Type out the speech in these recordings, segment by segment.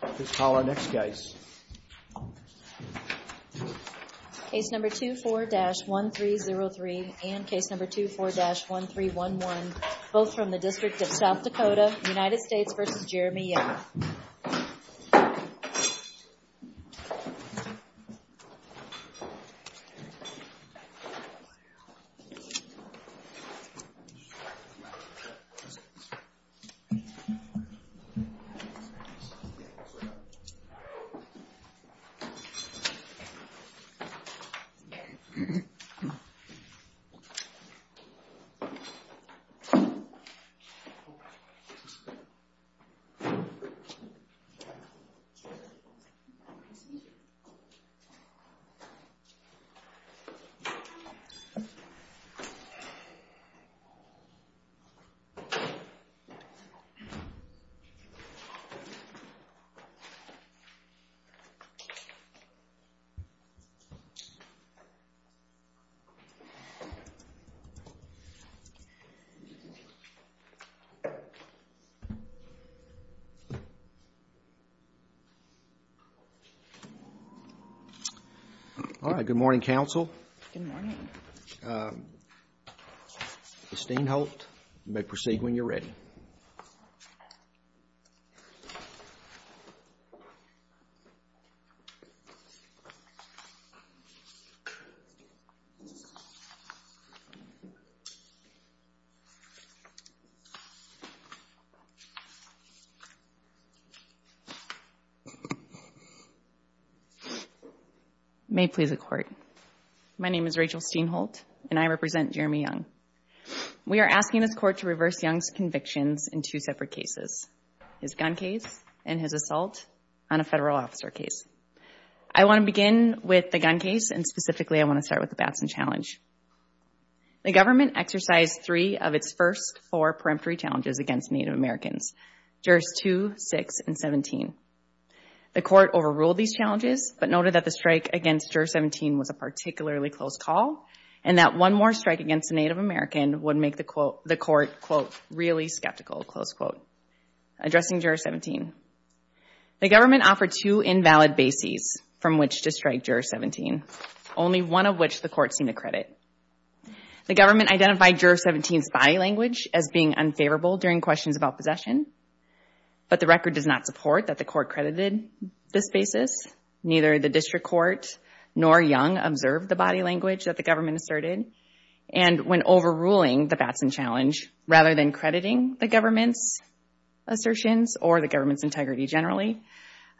Please call our next case. Case number 24-1303 and case number 24-1311, both from the District of South Dakota, United States v. Jeremy Young. Thank you. All right, good morning, counsel. Good morning. Ms. Stain helped, you may proceed when you're ready. May it please the court. My name is Rachel Steinholt, and I represent Jeremy Young. We are asking this court to reverse Young's convictions in two separate cases, his gun case and his assault on a federal officer case. I want to begin with the gun case, and specifically I want to start with the Batson challenge. The government exercised three of its first four peremptory challenges against Native Americans, jurors 2, 6, and 17. The court overruled these challenges, but noted that the strike against juror 17 was a particularly close call, and that one more strike against a Native American would make the court, quote, really skeptical, close quote. Addressing juror 17, the government offered two invalid bases from which to strike juror 17, only one of which the court seemed to credit. The government identified juror 17's body language as being unfavorable during questions about possession, but the record does not support that the court credited this basis. Neither the district court nor Young observed the body language that the government asserted, and when overruling the Batson challenge, rather than crediting the government's assertions or the government's integrity generally,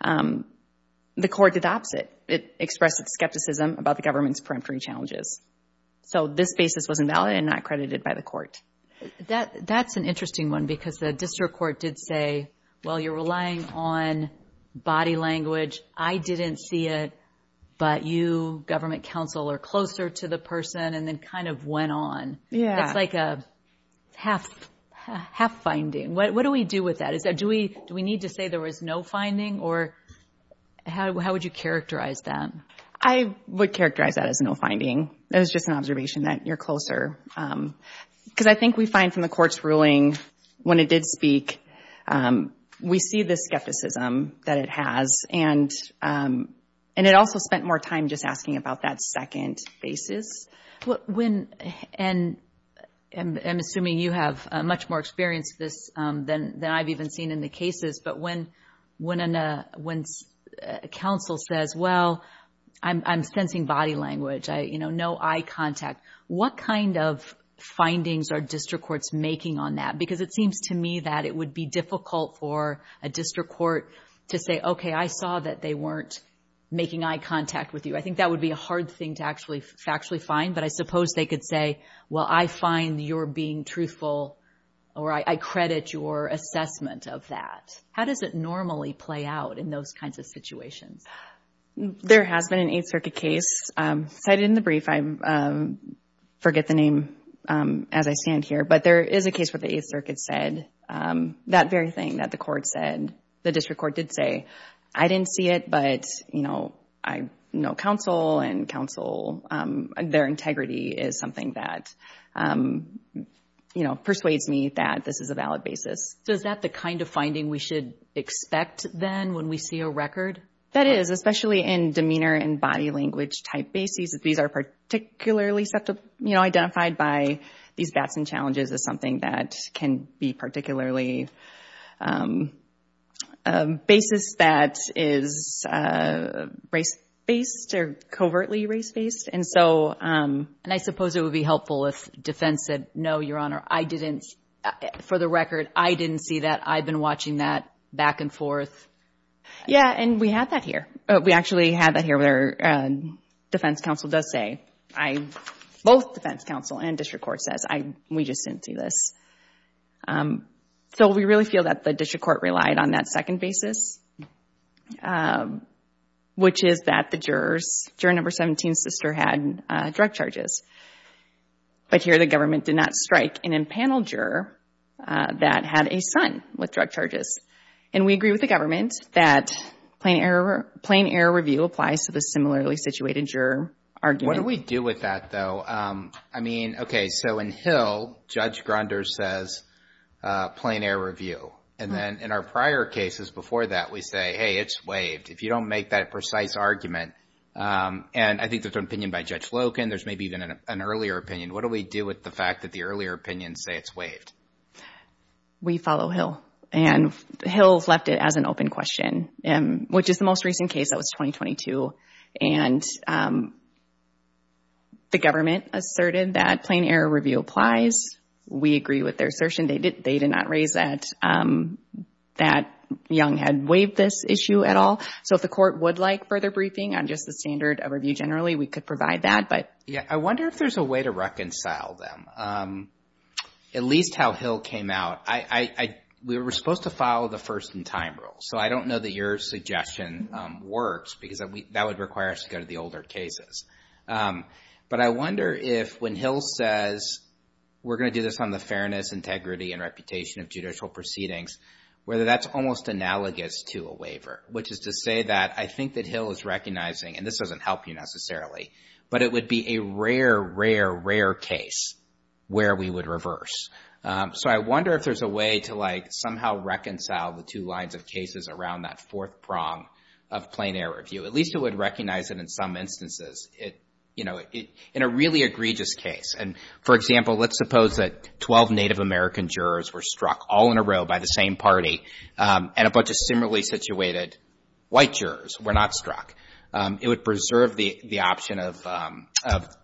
the court did the opposite. It expressed its skepticism about the government's peremptory challenges. So this basis was invalid and not credited by the court. That's an interesting one, because the district court did say, well, you're relying on body language. I didn't see it, but you, government counsel, are closer to the person, and then kind of went on. It's like a half finding. What do we do with that? Do we need to say there was no finding, or how would you characterize that? I would characterize that as no finding. It was just an observation that you're closer. Because I think we find from the court's ruling, when it did speak, we see the skepticism that it has, and it also spent more time just asking about that second basis. I'm assuming you have much more experience with this than I've even seen in the cases, but when counsel says, well, I'm sensing body language, no eye contact, what kind of findings are district courts making on that? Because it seems to me that it would be difficult for a district court to say, okay, I saw that they weren't making eye contact with you. I think that would be a hard thing to actually find, but I suppose they could say, well, I find you're being truthful, or I credit your assessment of that. How does it normally play out in those kinds of situations? Cited in the brief, I forget the name as I stand here, but there is a case where the 8th Circuit said that very thing that the court said. The district court did say, I didn't see it, but I know counsel, and their integrity is something that persuades me that this is a valid basis. So is that the kind of finding we should expect then when we see a record? That is, especially in demeanor and body language type bases. These are particularly identified by these bats and challenges as something that can be particularly a basis that is race-based or covertly race-based. And I suppose it would be helpful if defense said, no, Your Honor, I didn't, for the record, I didn't see it. I've been watching that back and forth. Yeah, and we have that here. We actually have that here where defense counsel does say, both defense counsel and district court says, we just didn't see this. So we really feel that the district court relied on that second basis, which is that the jurors, juror number 17's sister had drug charges. But here the government did not strike an impanel juror that had a son with drug charges. And we agree with the government that plain error review applies to the similarly situated juror argument. What do we do with that, though? I mean, okay, so in Hill, Judge Grunder says plain error review. And then in our prior cases before that, we say, hey, it's waived. If you don't make that precise argument, and I think that's an opinion by Judge Loken. There's maybe even an earlier opinion. What do we do with the fact that the earlier opinions say it's waived? We follow Hill, and Hill's left it as an open question, which is the most recent case that was 2022. And the government asserted that plain error review applies. We agree with their assertion. They did not raise that Young had waived this issue at all. So if the court would like further briefing on just the standard of review generally, we could provide that. I wonder if there's a way to reconcile them, at least how Hill came out. We were supposed to follow the first in time rule. So I don't know that your suggestion works, because that would require us to go to the older cases. But I wonder if when Hill says, we're going to do this on the fairness, integrity, and reputation of judicial proceedings, whether that's almost analogous to a waiver, which is to say that I think that Hill is recognizing, and this doesn't help you necessarily, but it would be a rare, rare, rare case where we would reverse. So I wonder if there's a way to somehow reconcile the two lines of cases around that fourth prong of plain error review. At least it would recognize that in some instances, in a really egregious case. And, for example, let's suppose that 12 Native American jurors were struck all in a row by the same party, and a bunch of similarly situated white jurors were not struck. It would preserve the option of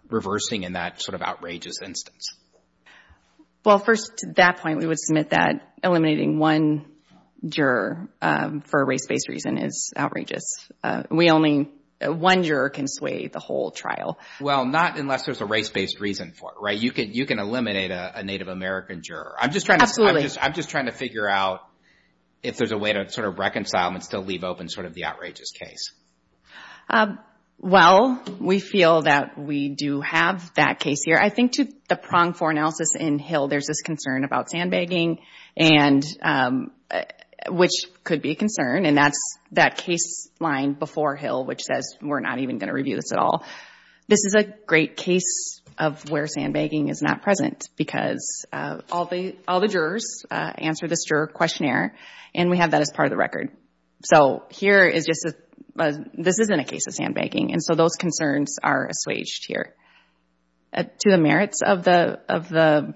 reversing in that sort of outrageous instance. Well, first, to that point, we would submit that eliminating one juror for a race-based reason is outrageous. We only, one juror can sway the whole trial. Well, not unless there's a race-based reason for it, right? You can eliminate a Native American juror. Absolutely. I'm just trying to figure out if there's a way to sort of reconcile them and still leave open sort of the outrageous case. Well, we feel that we do have that case here. I think to the prong for analysis in Hill, there's this concern about sandbagging, which could be a concern, and that's that case line before Hill which says, we're not even going to review this at all. This is a great case of where sandbagging is not present because all the jurors answered this juror questionnaire, and we have that as part of the record. So here is just a, this isn't a case of sandbagging, and so those concerns are assuaged here. To the merits of the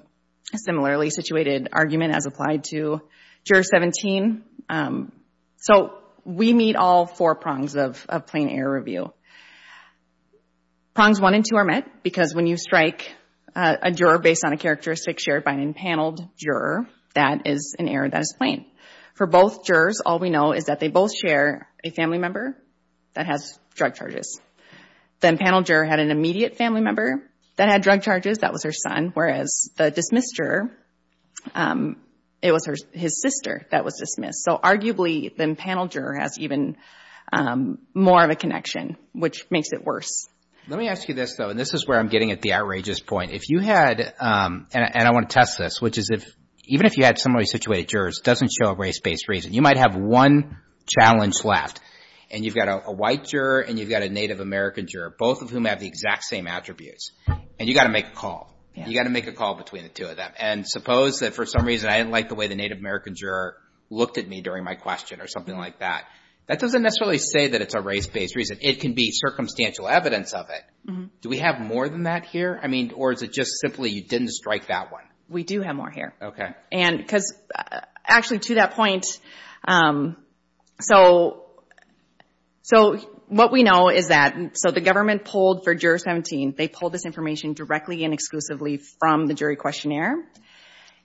similarly situated argument as applied to Juror 17, so we meet all four prongs of plain error review. Prongs one and two are met because when you strike a juror based on a characteristic shared by an impaneled juror, that is an error that is plain. For both jurors, all we know is that they both share a family member that has drug charges. The impaneled juror had an immediate family member that had drug charges, that was her son, whereas the dismissed juror, it was his sister that was dismissed. So arguably, the impaneled juror has even more of a connection, which makes it worse. Let me ask you this, though, and this is where I'm getting at the outrageous point. If you had, and I want to test this, which is even if you had similarly situated jurors, it doesn't show a race-based reason. You might have one challenge left, and you've got a white juror and you've got a Native American juror, both of whom have the exact same attributes, and you've got to make a call. You've got to make a call between the two of them, and suppose that for some reason I didn't like the way the Native American juror looked at me during my question or something like that. That doesn't necessarily say that it's a race-based reason. It can be circumstantial evidence of it. Do we have more than that here, or is it just simply you didn't strike that one? We do have more here. Actually, to that point, what we know is that the government pulled for Juror 17, they pulled this information directly and exclusively from the jury questionnaire,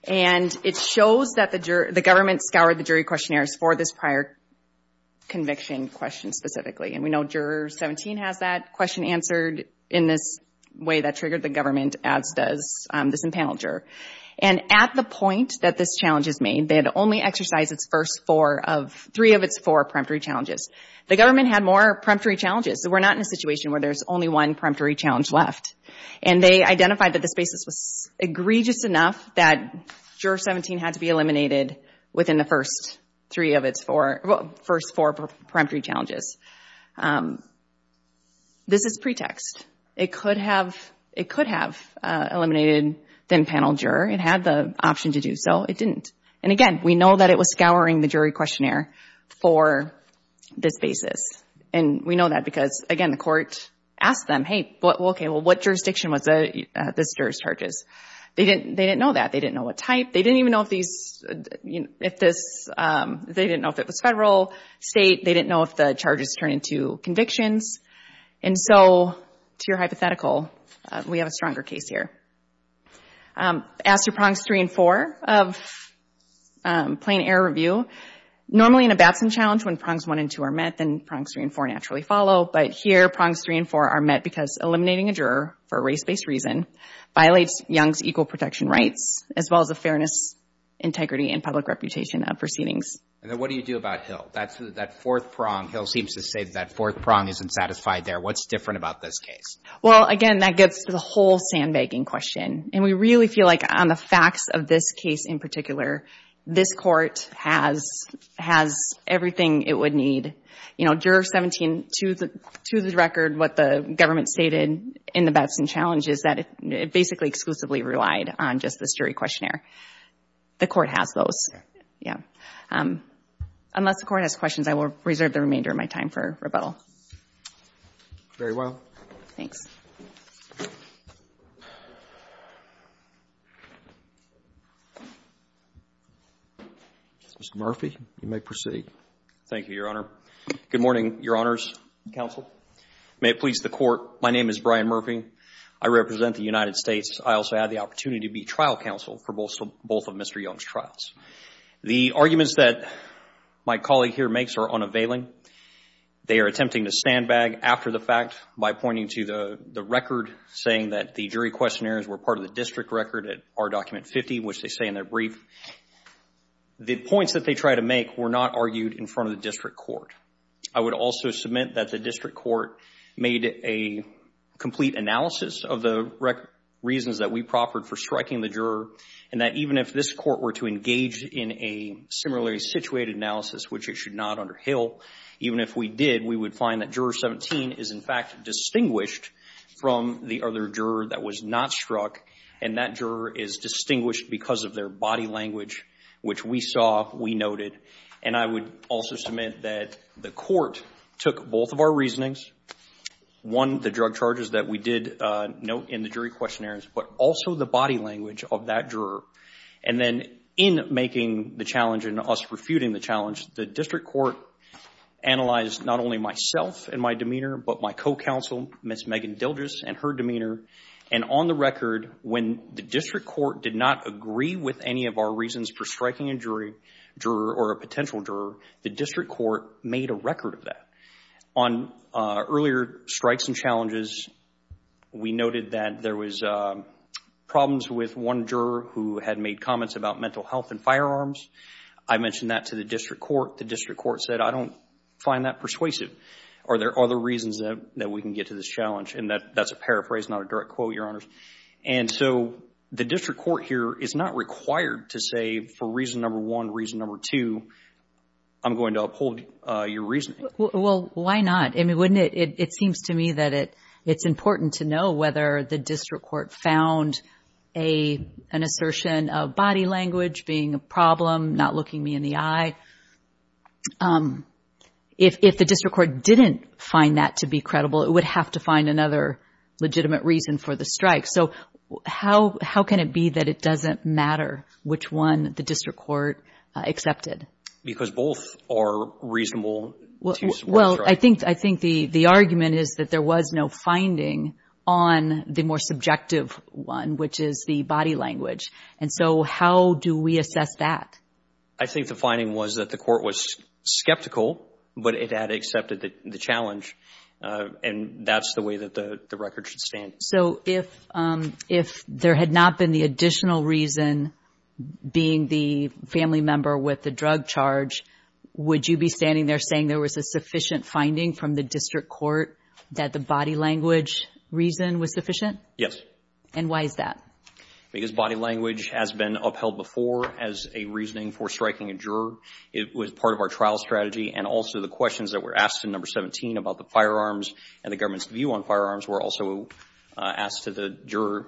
and it shows that the government scoured the jury questionnaires for this prior conviction question specifically. And we know Juror 17 has that question answered in this way that triggered the government, as does this impaneled juror. And at the point that this challenge is made, they had only exercised three of its four peremptory challenges. The government had more peremptory challenges. We're not in a situation where there's only one peremptory challenge left. And they identified that this basis was egregious enough that Juror 17 had to be eliminated within the first three of its four, first four peremptory challenges. This is pretext. It could have eliminated the impaneled juror. It had the option to do so. It didn't. And again, we know that it was scouring the jury questionnaire for this basis. And we know that because, again, the court asked them, hey, okay, well, what jurisdiction was this juror's charges? They didn't know that. They didn't know what type. They didn't even know if it was federal, state. They didn't know if the charges turned into convictions. And so, to your hypothetical, we have a stronger case here. As to prongs three and four of plain error review, normally in a Batson challenge, when prongs one and two are met, then prongs three and four naturally follow. But here, prongs three and four are met because eliminating a juror for a race-based reason violates Young's equal protection rights, as well as the fairness, integrity, and public reputation of proceedings. And then what do you do about Hill? That fourth prong, Hill seems to say that that fourth prong isn't satisfied there. What's different about this case? Well, again, that gets to the whole sandbagging question. And we really feel like on the facts of this case in particular, this court has everything it would need. You know, juror 17, to the record, what the government stated in the Batson challenge is that it basically exclusively relied on just this jury questionnaire. The court has those. Yeah. Unless the court has questions, I will reserve the remainder of my time for rebuttal. Very well. Thanks. Mr. Murphy, you may proceed. Thank you, Your Honor. Good morning, Your Honors, Counsel. May it please the Court, my name is Brian Murphy. I represent the United States. I also have the opportunity to be trial counsel for both of Mr. Young's trials. The arguments that my colleague here makes are unavailing. They are attempting to sandbag after the fact by pointing to the record saying that the jury questionnaires were part of the district record at R Document 50, which they say in their brief. The points that they try to make were not argued in front of the district court. I would also submit that the district court made a complete analysis of the reasons that we proffered for striking the juror, and that even if this court were to engage in a similarly situated analysis, which it should not under Hill, even if we did, we would find that Juror 17 is in fact distinguished from the other juror that was not struck, and that juror is distinguished because of their body language, which we saw, we noted. And I would also submit that the court took both of our reasonings, one, the drug charges that we did note in the jury questionnaires, but also the body language of that juror. And then in making the challenge and us refuting the challenge, the district court analyzed not only myself and my demeanor, but my co-counsel, Ms. Megan Dilgis, and her demeanor. And on the record, when the district court did not agree with any of our reasons for striking a jury, juror or a potential juror, the district court made a record of that. On earlier strikes and challenges, we noted that there was problems with one juror who had a comment about mental health and firearms. I mentioned that to the district court. The district court said, I don't find that persuasive. Are there other reasons that we can get to this challenge? And that's a paraphrase, not a direct quote, Your Honors. And so the district court here is not required to say, for reason number one, reason number two, I'm going to uphold your reasoning. Well, why not? I mean, wouldn't it, it seems to me that it's important to know whether the district court found an assertion of body language being a problem, not looking me in the eye. If the district court didn't find that to be credible, it would have to find another legitimate reason for the strike. So how can it be that it doesn't matter which one the district court accepted? Because both are reasonable. Well, I think the argument is that there was no finding on the more subjective one, which is the body language. And so how do we assess that? I think the finding was that the court was skeptical, but it had accepted the challenge. And that's the way that the record should stand. So if there had not been the additional reason being the family member with the drug charge, would you be standing there saying there was a sufficient finding from the district court that the body language reason was sufficient? Yes. And why is that? Because body language has been upheld before as a reasoning for striking a juror. It was part of our trial strategy. And also the questions that were asked in number 17 about the firearms and the government's view on firearms were also asked to the juror.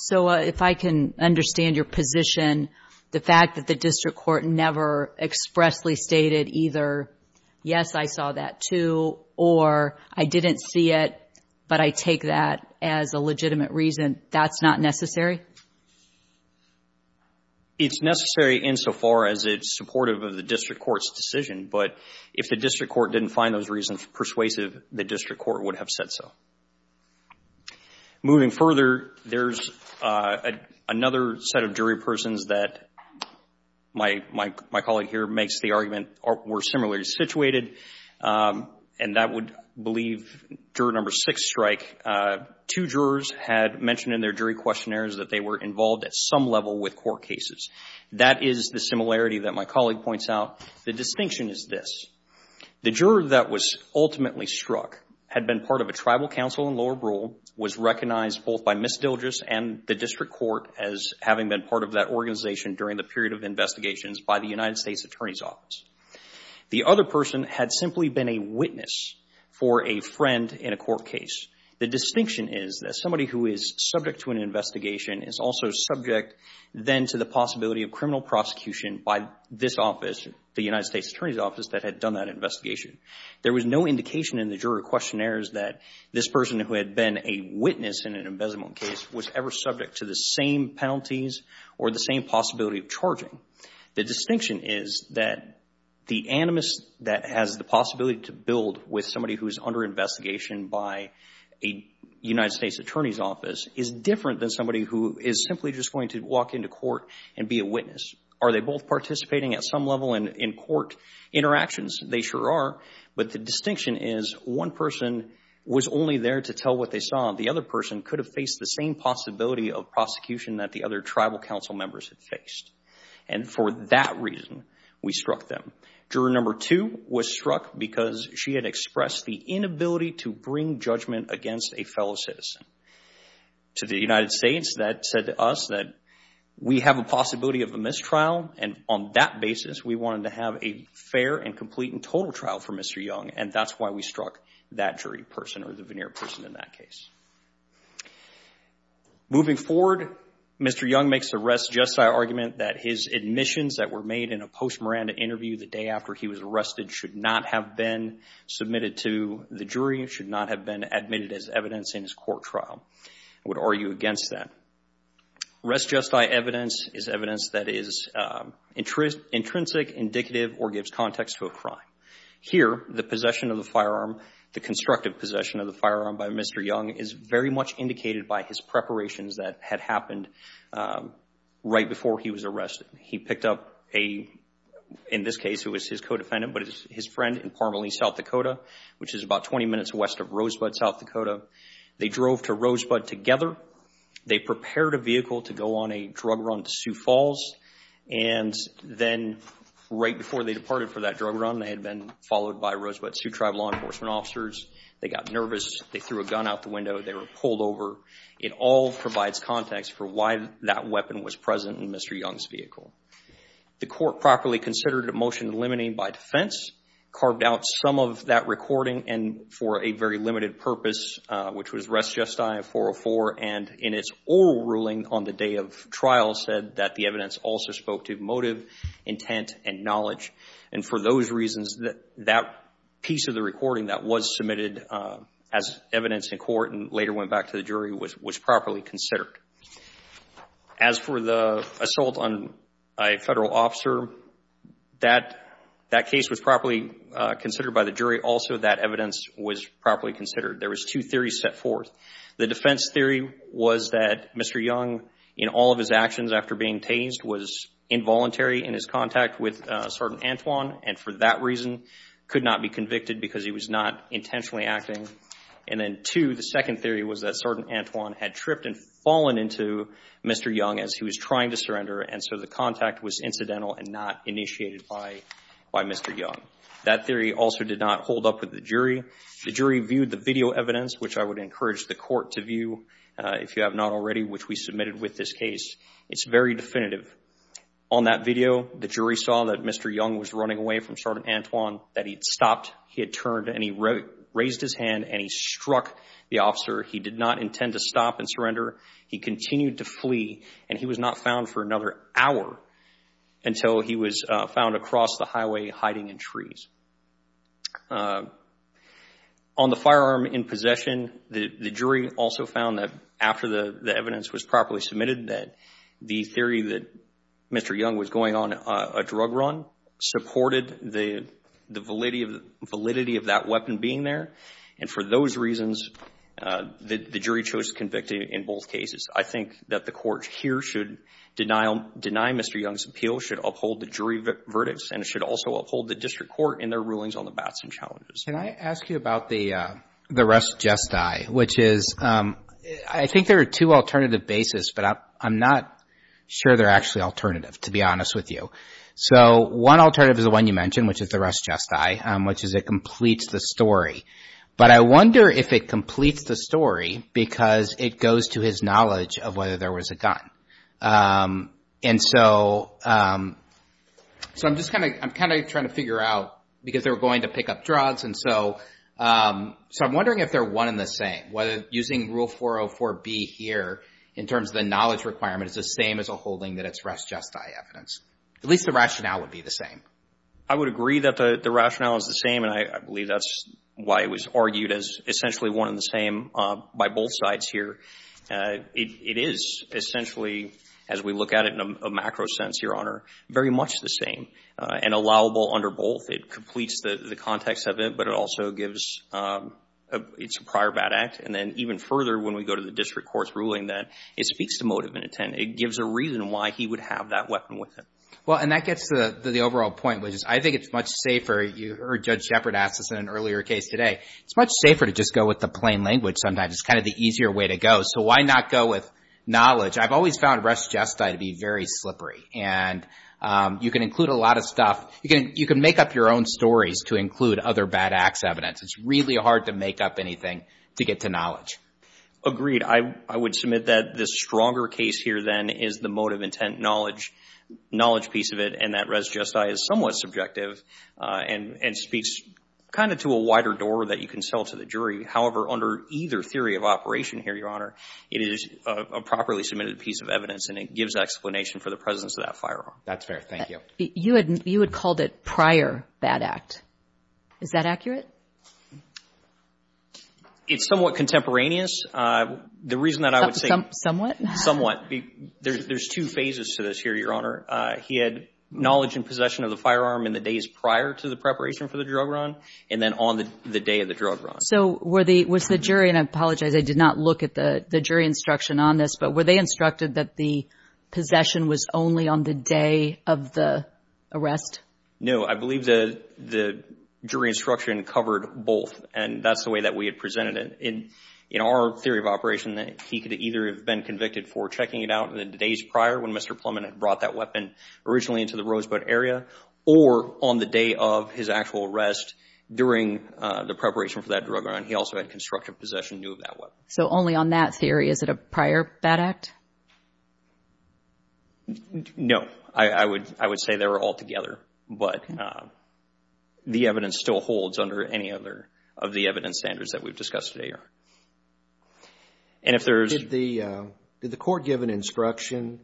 So if I can understand your position, the fact that the district court never expressly stated either, yes, I saw that too, or I didn't see it, but I take that as a legitimate reason, that's not necessary? It's necessary insofar as it's supportive of the district court's decision. But if the district court didn't find those reasons persuasive, the district court would have said so. Moving further, there's another set of jury persons that my colleague here makes the argument were similarly situated, and that would believe juror number six strike. Two jurors had mentioned in their jury questionnaires that they were involved at some level with court cases. That is the similarity that my colleague points out. The distinction is this. The juror that was ultimately struck had been part of a tribal council in Lower Brewer, was recognized both by Miss Dilges and the district court as having been part of that organization during the period of investigations by the United States Attorney's Office. The other person had simply been a witness for a friend in a court case. The distinction is that somebody who is subject to an investigation is also subject then to the possibility of criminal prosecution by this office, the United States Attorney's Office, that had done that investigation. There was no indication in the juror questionnaires that this person who had been a witness in an embezzlement case was ever subject to the same penalties or the same possibility of charging. The distinction is that the animus that has the possibility to build with somebody who is under investigation by a United States Attorney's Office is different than somebody who is simply just going to walk into court and be a witness. Are they both participating at some level in court interactions? They sure are, but the distinction is one person was only there to tell what they saw. The other person could have faced the same possibility of prosecution that the other tribal council members had faced, and for that reason, we struck them. Juror number two was struck because she had expressed the inability to bring judgment against a fellow citizen. To the United States, that said to us that we have a possibility of a mistrial, and on that basis, we wanted to have a fair and complete and total trial for Mr. Young, and that's why we struck that jury person or the veneer person in that case. Moving forward, Mr. Young makes a res justi argument that his admissions that were made in a post-Miranda interview the day after he was arrested should not have been submitted to the jury, should not have been admitted as evidence in his court trial. I would argue against that. Res justi evidence is evidence that is intrinsic, indicative, or gives context to a crime. Here, the possession of the firearm, the constructive possession of the firearm by Mr. Young is very much indicated by his preparations that had happened right before he was arrested. He picked up a, in this case, it was his co-defendant, but it was his friend in Parmalee, South Dakota, which is about 20 minutes west of Rosebud, South Dakota. They drove to Rosebud together. They prepared a vehicle to go on a drug run to Sioux Falls, and then right before they departed for that drug run, they had been followed by Rosebud Sioux Tribe law enforcement officers. They got nervous. They threw a gun out the window. They were pulled over. It all provides context for why that weapon was present in Mr. Young's vehicle. The court properly considered a motion limiting by defense, carved out some of that recording, and for a very limited purpose, which was res justi 404, and in its oral ruling on the day of trial said that the evidence also spoke to motive, intent, and knowledge, and for those reasons, that piece of the recording that was submitted as evidence in court and later went back to the jury was properly considered. As for the assault on a federal officer, that case was properly considered by the jury. Also, that evidence was properly considered. There was two theories set forth. The defense theory was that Mr. Young, in all of his actions after being tased, was involuntary in his contact with Sergeant Antwon, and for that reason, could not be convicted because he was not intentionally acting. And then two, the second theory was that Sergeant Antwon had tripped and fallen into Mr. Young as he was trying to surrender, and so the contact was incidental and not initiated by Mr. Young. That theory also did not hold up with the jury. The jury viewed the video evidence, which I would encourage the court to view, if you have not already, which we submitted with this case. It's very definitive. On that video, the jury saw that Mr. Young was running away from Sergeant Antwon, that he had stopped, he had turned, and he raised his hand, and he struck the officer. He did not intend to stop and surrender. He continued to flee, and he was not found for another hour until he was found across the highway hiding in trees. On the firearm in possession, the jury also found that after the evidence was properly submitted, that the theory that Mr. Young was going on a drug run supported the validity of that weapon being there, and for those reasons, the jury chose to convict him in both cases. I think that the court here should deny Mr. Young's appeal, should uphold the jury verdicts, and it should also uphold the district court in their rulings on the Batson challenges. Can I ask you about the rest just die, which is, I think there are two alternative bases, but I'm not sure they're actually alternative, to be honest with you. One alternative is the one you mentioned, which is the rest just die, which is it completes the story, but I wonder if it completes the story because it goes to his knowledge of whether there was a gun. I'm kind of trying to figure out, because they were going to pick up drugs, and so I'm wondering if they're one and the same, whether using Rule 404B here in terms of the knowledge requirement is the same as upholding that it's rest just die evidence. At least the rationale would be the same. I would agree that the rationale is the same, and I believe that's why it was argued as essentially one and the same by both sides here. It is essentially, as we look at it in a macro sense, Your Honor, very much the same and allowable under both. It completes the context of it, but it also gives it's a prior bad act, and then even further when we go to the district court's ruling that it speaks to motive and intent. It gives a reason why he would have that weapon with him. Well, and that gets to the overall point, which is I think it's much safer. You heard Judge Shepard ask this in an earlier case today. It's much safer to just go with the plain language sometimes. It's kind of the easier way to go, so why not go with knowledge? I've always found rest just die to be very slippery, and you can include a lot of stuff. You can make up your own stories to include other bad acts evidence. It's really hard to make up anything to get to knowledge. Agreed. I would submit that the stronger case here then is the motive intent knowledge piece of it, and that rest just die is somewhat subjective and speaks kind of to a wider door that you can sell to the jury. However, under either theory of operation here, Your Honor, it is a properly submitted piece of evidence, and it gives explanation for the presence of that firearm. That's fair. Thank you. You had called it prior bad act. Is that accurate? It's somewhat contemporaneous. Somewhat? Somewhat. There's two phases to this here, Your Honor. He had knowledge and possession of the firearm in the days prior to the preparation for the drug run and then on the day of the drug run. So was the jury, and I apologize, I did not look at the jury instruction on this, but were they instructed that the possession was only on the day of the arrest? No. I believe the jury instruction covered both, and that's the way that we had presented it. In our theory of operation, he could either have been convicted for checking it out in the days prior when Mr. Plumman had brought that weapon originally into the Rosebud area or on the day of his actual arrest during the preparation for that drug run. He also had constructive possession and knew of that weapon. So only on that theory? Is it a prior bad act? No. I would say they were all together, but the evidence still holds under any other of the evidence standards that we've discussed today, Your Honor. Did the court give an instruction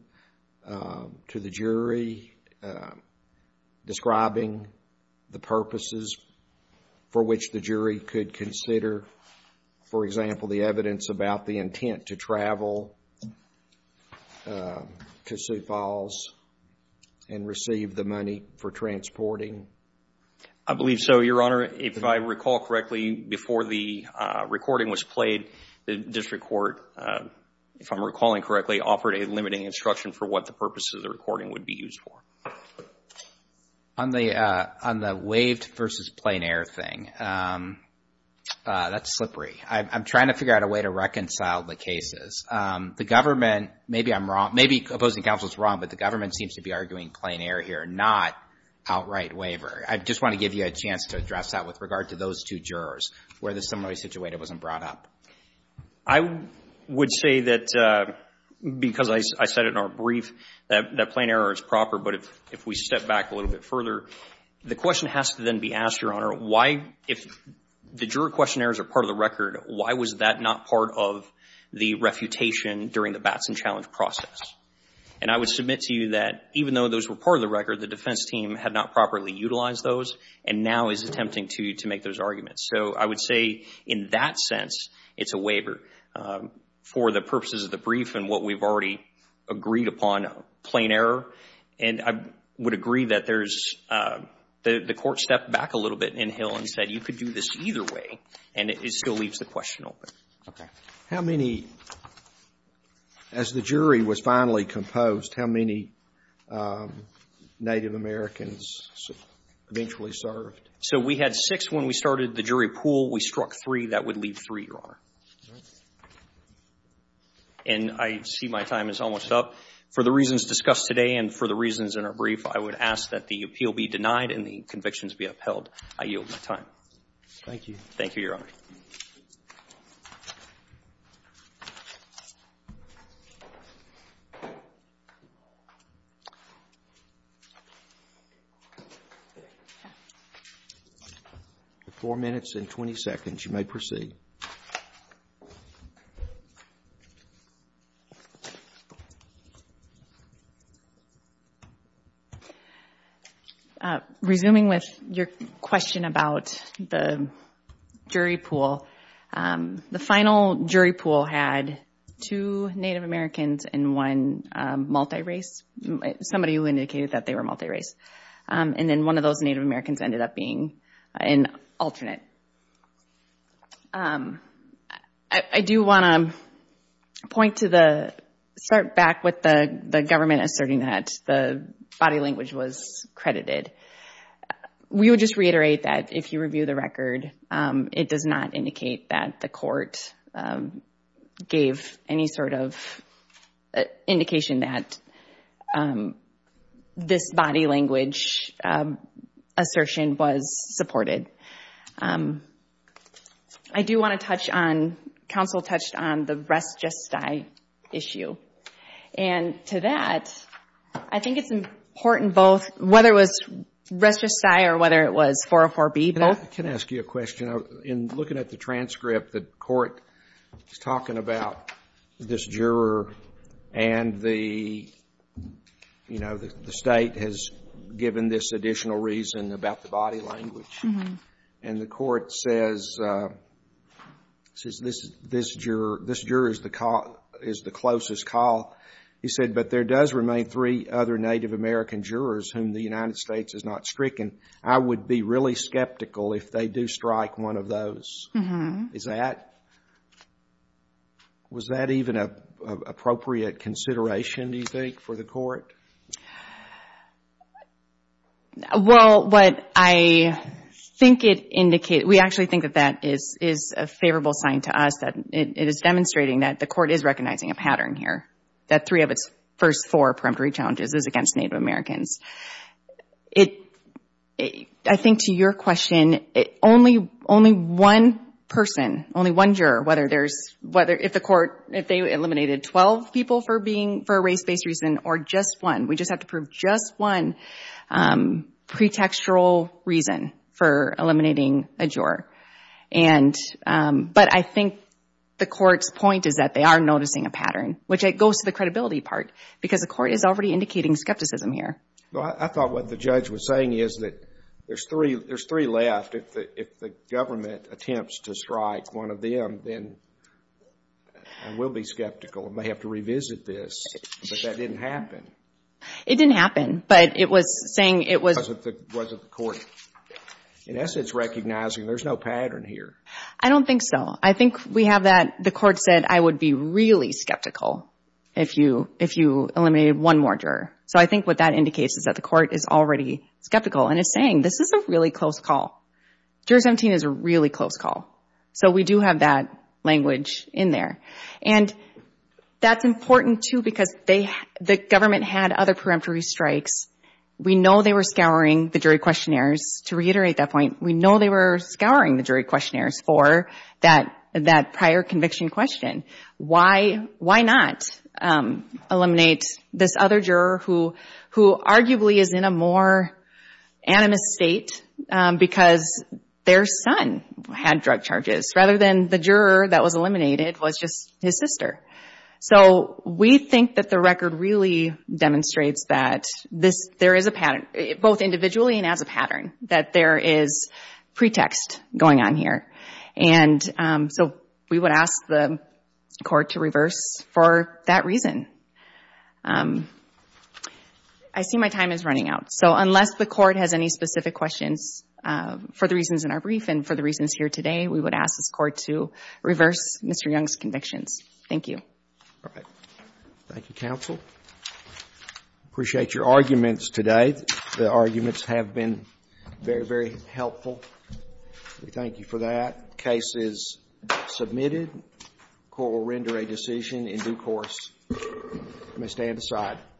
to the jury describing the purposes for which the jury could consider, for example, the evidence about the intent to travel to Sioux Falls and receive the money for transporting? I believe so, Your Honor. If I recall correctly, before the recording was played, the district court, if I'm recalling correctly, offered a limiting instruction for what the purposes of the recording would be used for. On the waived versus plain air thing, that's slippery. I'm trying to figure out a way to reconcile the cases. The government, maybe I'm wrong, maybe opposing counsel is wrong, but the government seems to be arguing plain air here, not outright waiver. I just want to give you a chance to address that with regard to those two jurors where the similar situation wasn't brought up. I would say that because I said it in our brief, that plain air is proper. But if we step back a little bit further, the question has to then be asked, Your Honor, if the juror questionnaires are part of the record, why was that not part of the refutation during the Batson Challenge process? And I would submit to you that even though those were part of the record, the defense team had not properly utilized those and now is attempting to make those arguments. So I would say in that sense, it's a waiver for the purposes of the brief and what we've already agreed upon, plain air. And I would agree that there's the court stepped back a little bit in Hill and said, you could do this either way. And it still leaves the question open. How many, as the jury was finally composed, how many Native Americans eventually served? So we had six when we started the jury pool. We struck three. That would leave three, Your Honor. And I see my time is almost up. For the reasons discussed today and for the reasons in our brief, I would ask that the appeal be denied and the convictions be upheld. I yield my time. Thank you. Four minutes and 20 seconds. You may proceed. Resuming with your question about the jury pool, the final jury pool had two Native Americans and one multi-race, somebody who indicated that they were multi-race. And then one of those Native Americans ended up being an alternate. I do want to start back with the government asserting that the body language was credited. We would just reiterate that if you review the record, it does not indicate that the court gave any sort of indication that this body language assertion was supported. I do want to touch on, counsel touched on the res gesti issue. And to that, I think it's important both whether it was res gesti or whether it was 404B both. Can I ask you a question? In looking at the transcript, the court is talking about this juror and the state has given this additional reason about the body language. And the court says this juror is the closest call. He said, but there does remain three other Native American jurors whom the United States has not stricken. I would be really skeptical if they do strike one of those. Is that, was that even an appropriate consideration, do you think, for the court? Well, what I think it indicates, we actually think that that is a favorable sign to us. It is demonstrating that the court is recognizing a pattern here, that three of its first four perimetry challenges is against Native Americans. It, I think to your question, only one person, only one juror, whether there's, if the court, if they eliminated 12 people for being, for a race-based reason, or just one. We just have to prove just one pretextual reason for eliminating a juror. But I think the court's point is that they are noticing a pattern, which goes to the credibility part, because the court is already indicating skepticism here. Well, I thought what the judge was saying is that there's three left. If the government attempts to strike one of them, then we'll be skeptical and may have to revisit this. But that didn't happen. It didn't happen, but it was saying it was... in essence, recognizing there's no pattern here. I don't think so. I think we have that, the court said, I would be really skeptical if you eliminated one more juror. So I think what that indicates is that the court is already skeptical and is saying, this is a really close call. Juror 17 is a really close call. So we do have that language in there. And that's important, too, because the government had other preemptory strikes. We know they were scouring the jury questionnaires. To reiterate that point, we know they were scouring the jury questionnaires for that prior conviction question. Why not eliminate this other juror who arguably is in a more animist state, because their son had drug charges, rather than the juror that was eliminated was just his sister? So we think that the record really demonstrates that there is a pattern, both individually and as a pattern, that there is pretext going on here. And so we would ask the court to reverse for that reason. I see my time is running out. So unless the court has any specific questions for the reasons in our brief and for the reasons here today, we would ask this court to reverse Mr. Young's convictions. Thank you. Thank you, counsel. I appreciate your arguments today. The arguments have been very, very helpful. We thank you for that. The case is submitted. The court will render a decision in due course. I may stand aside.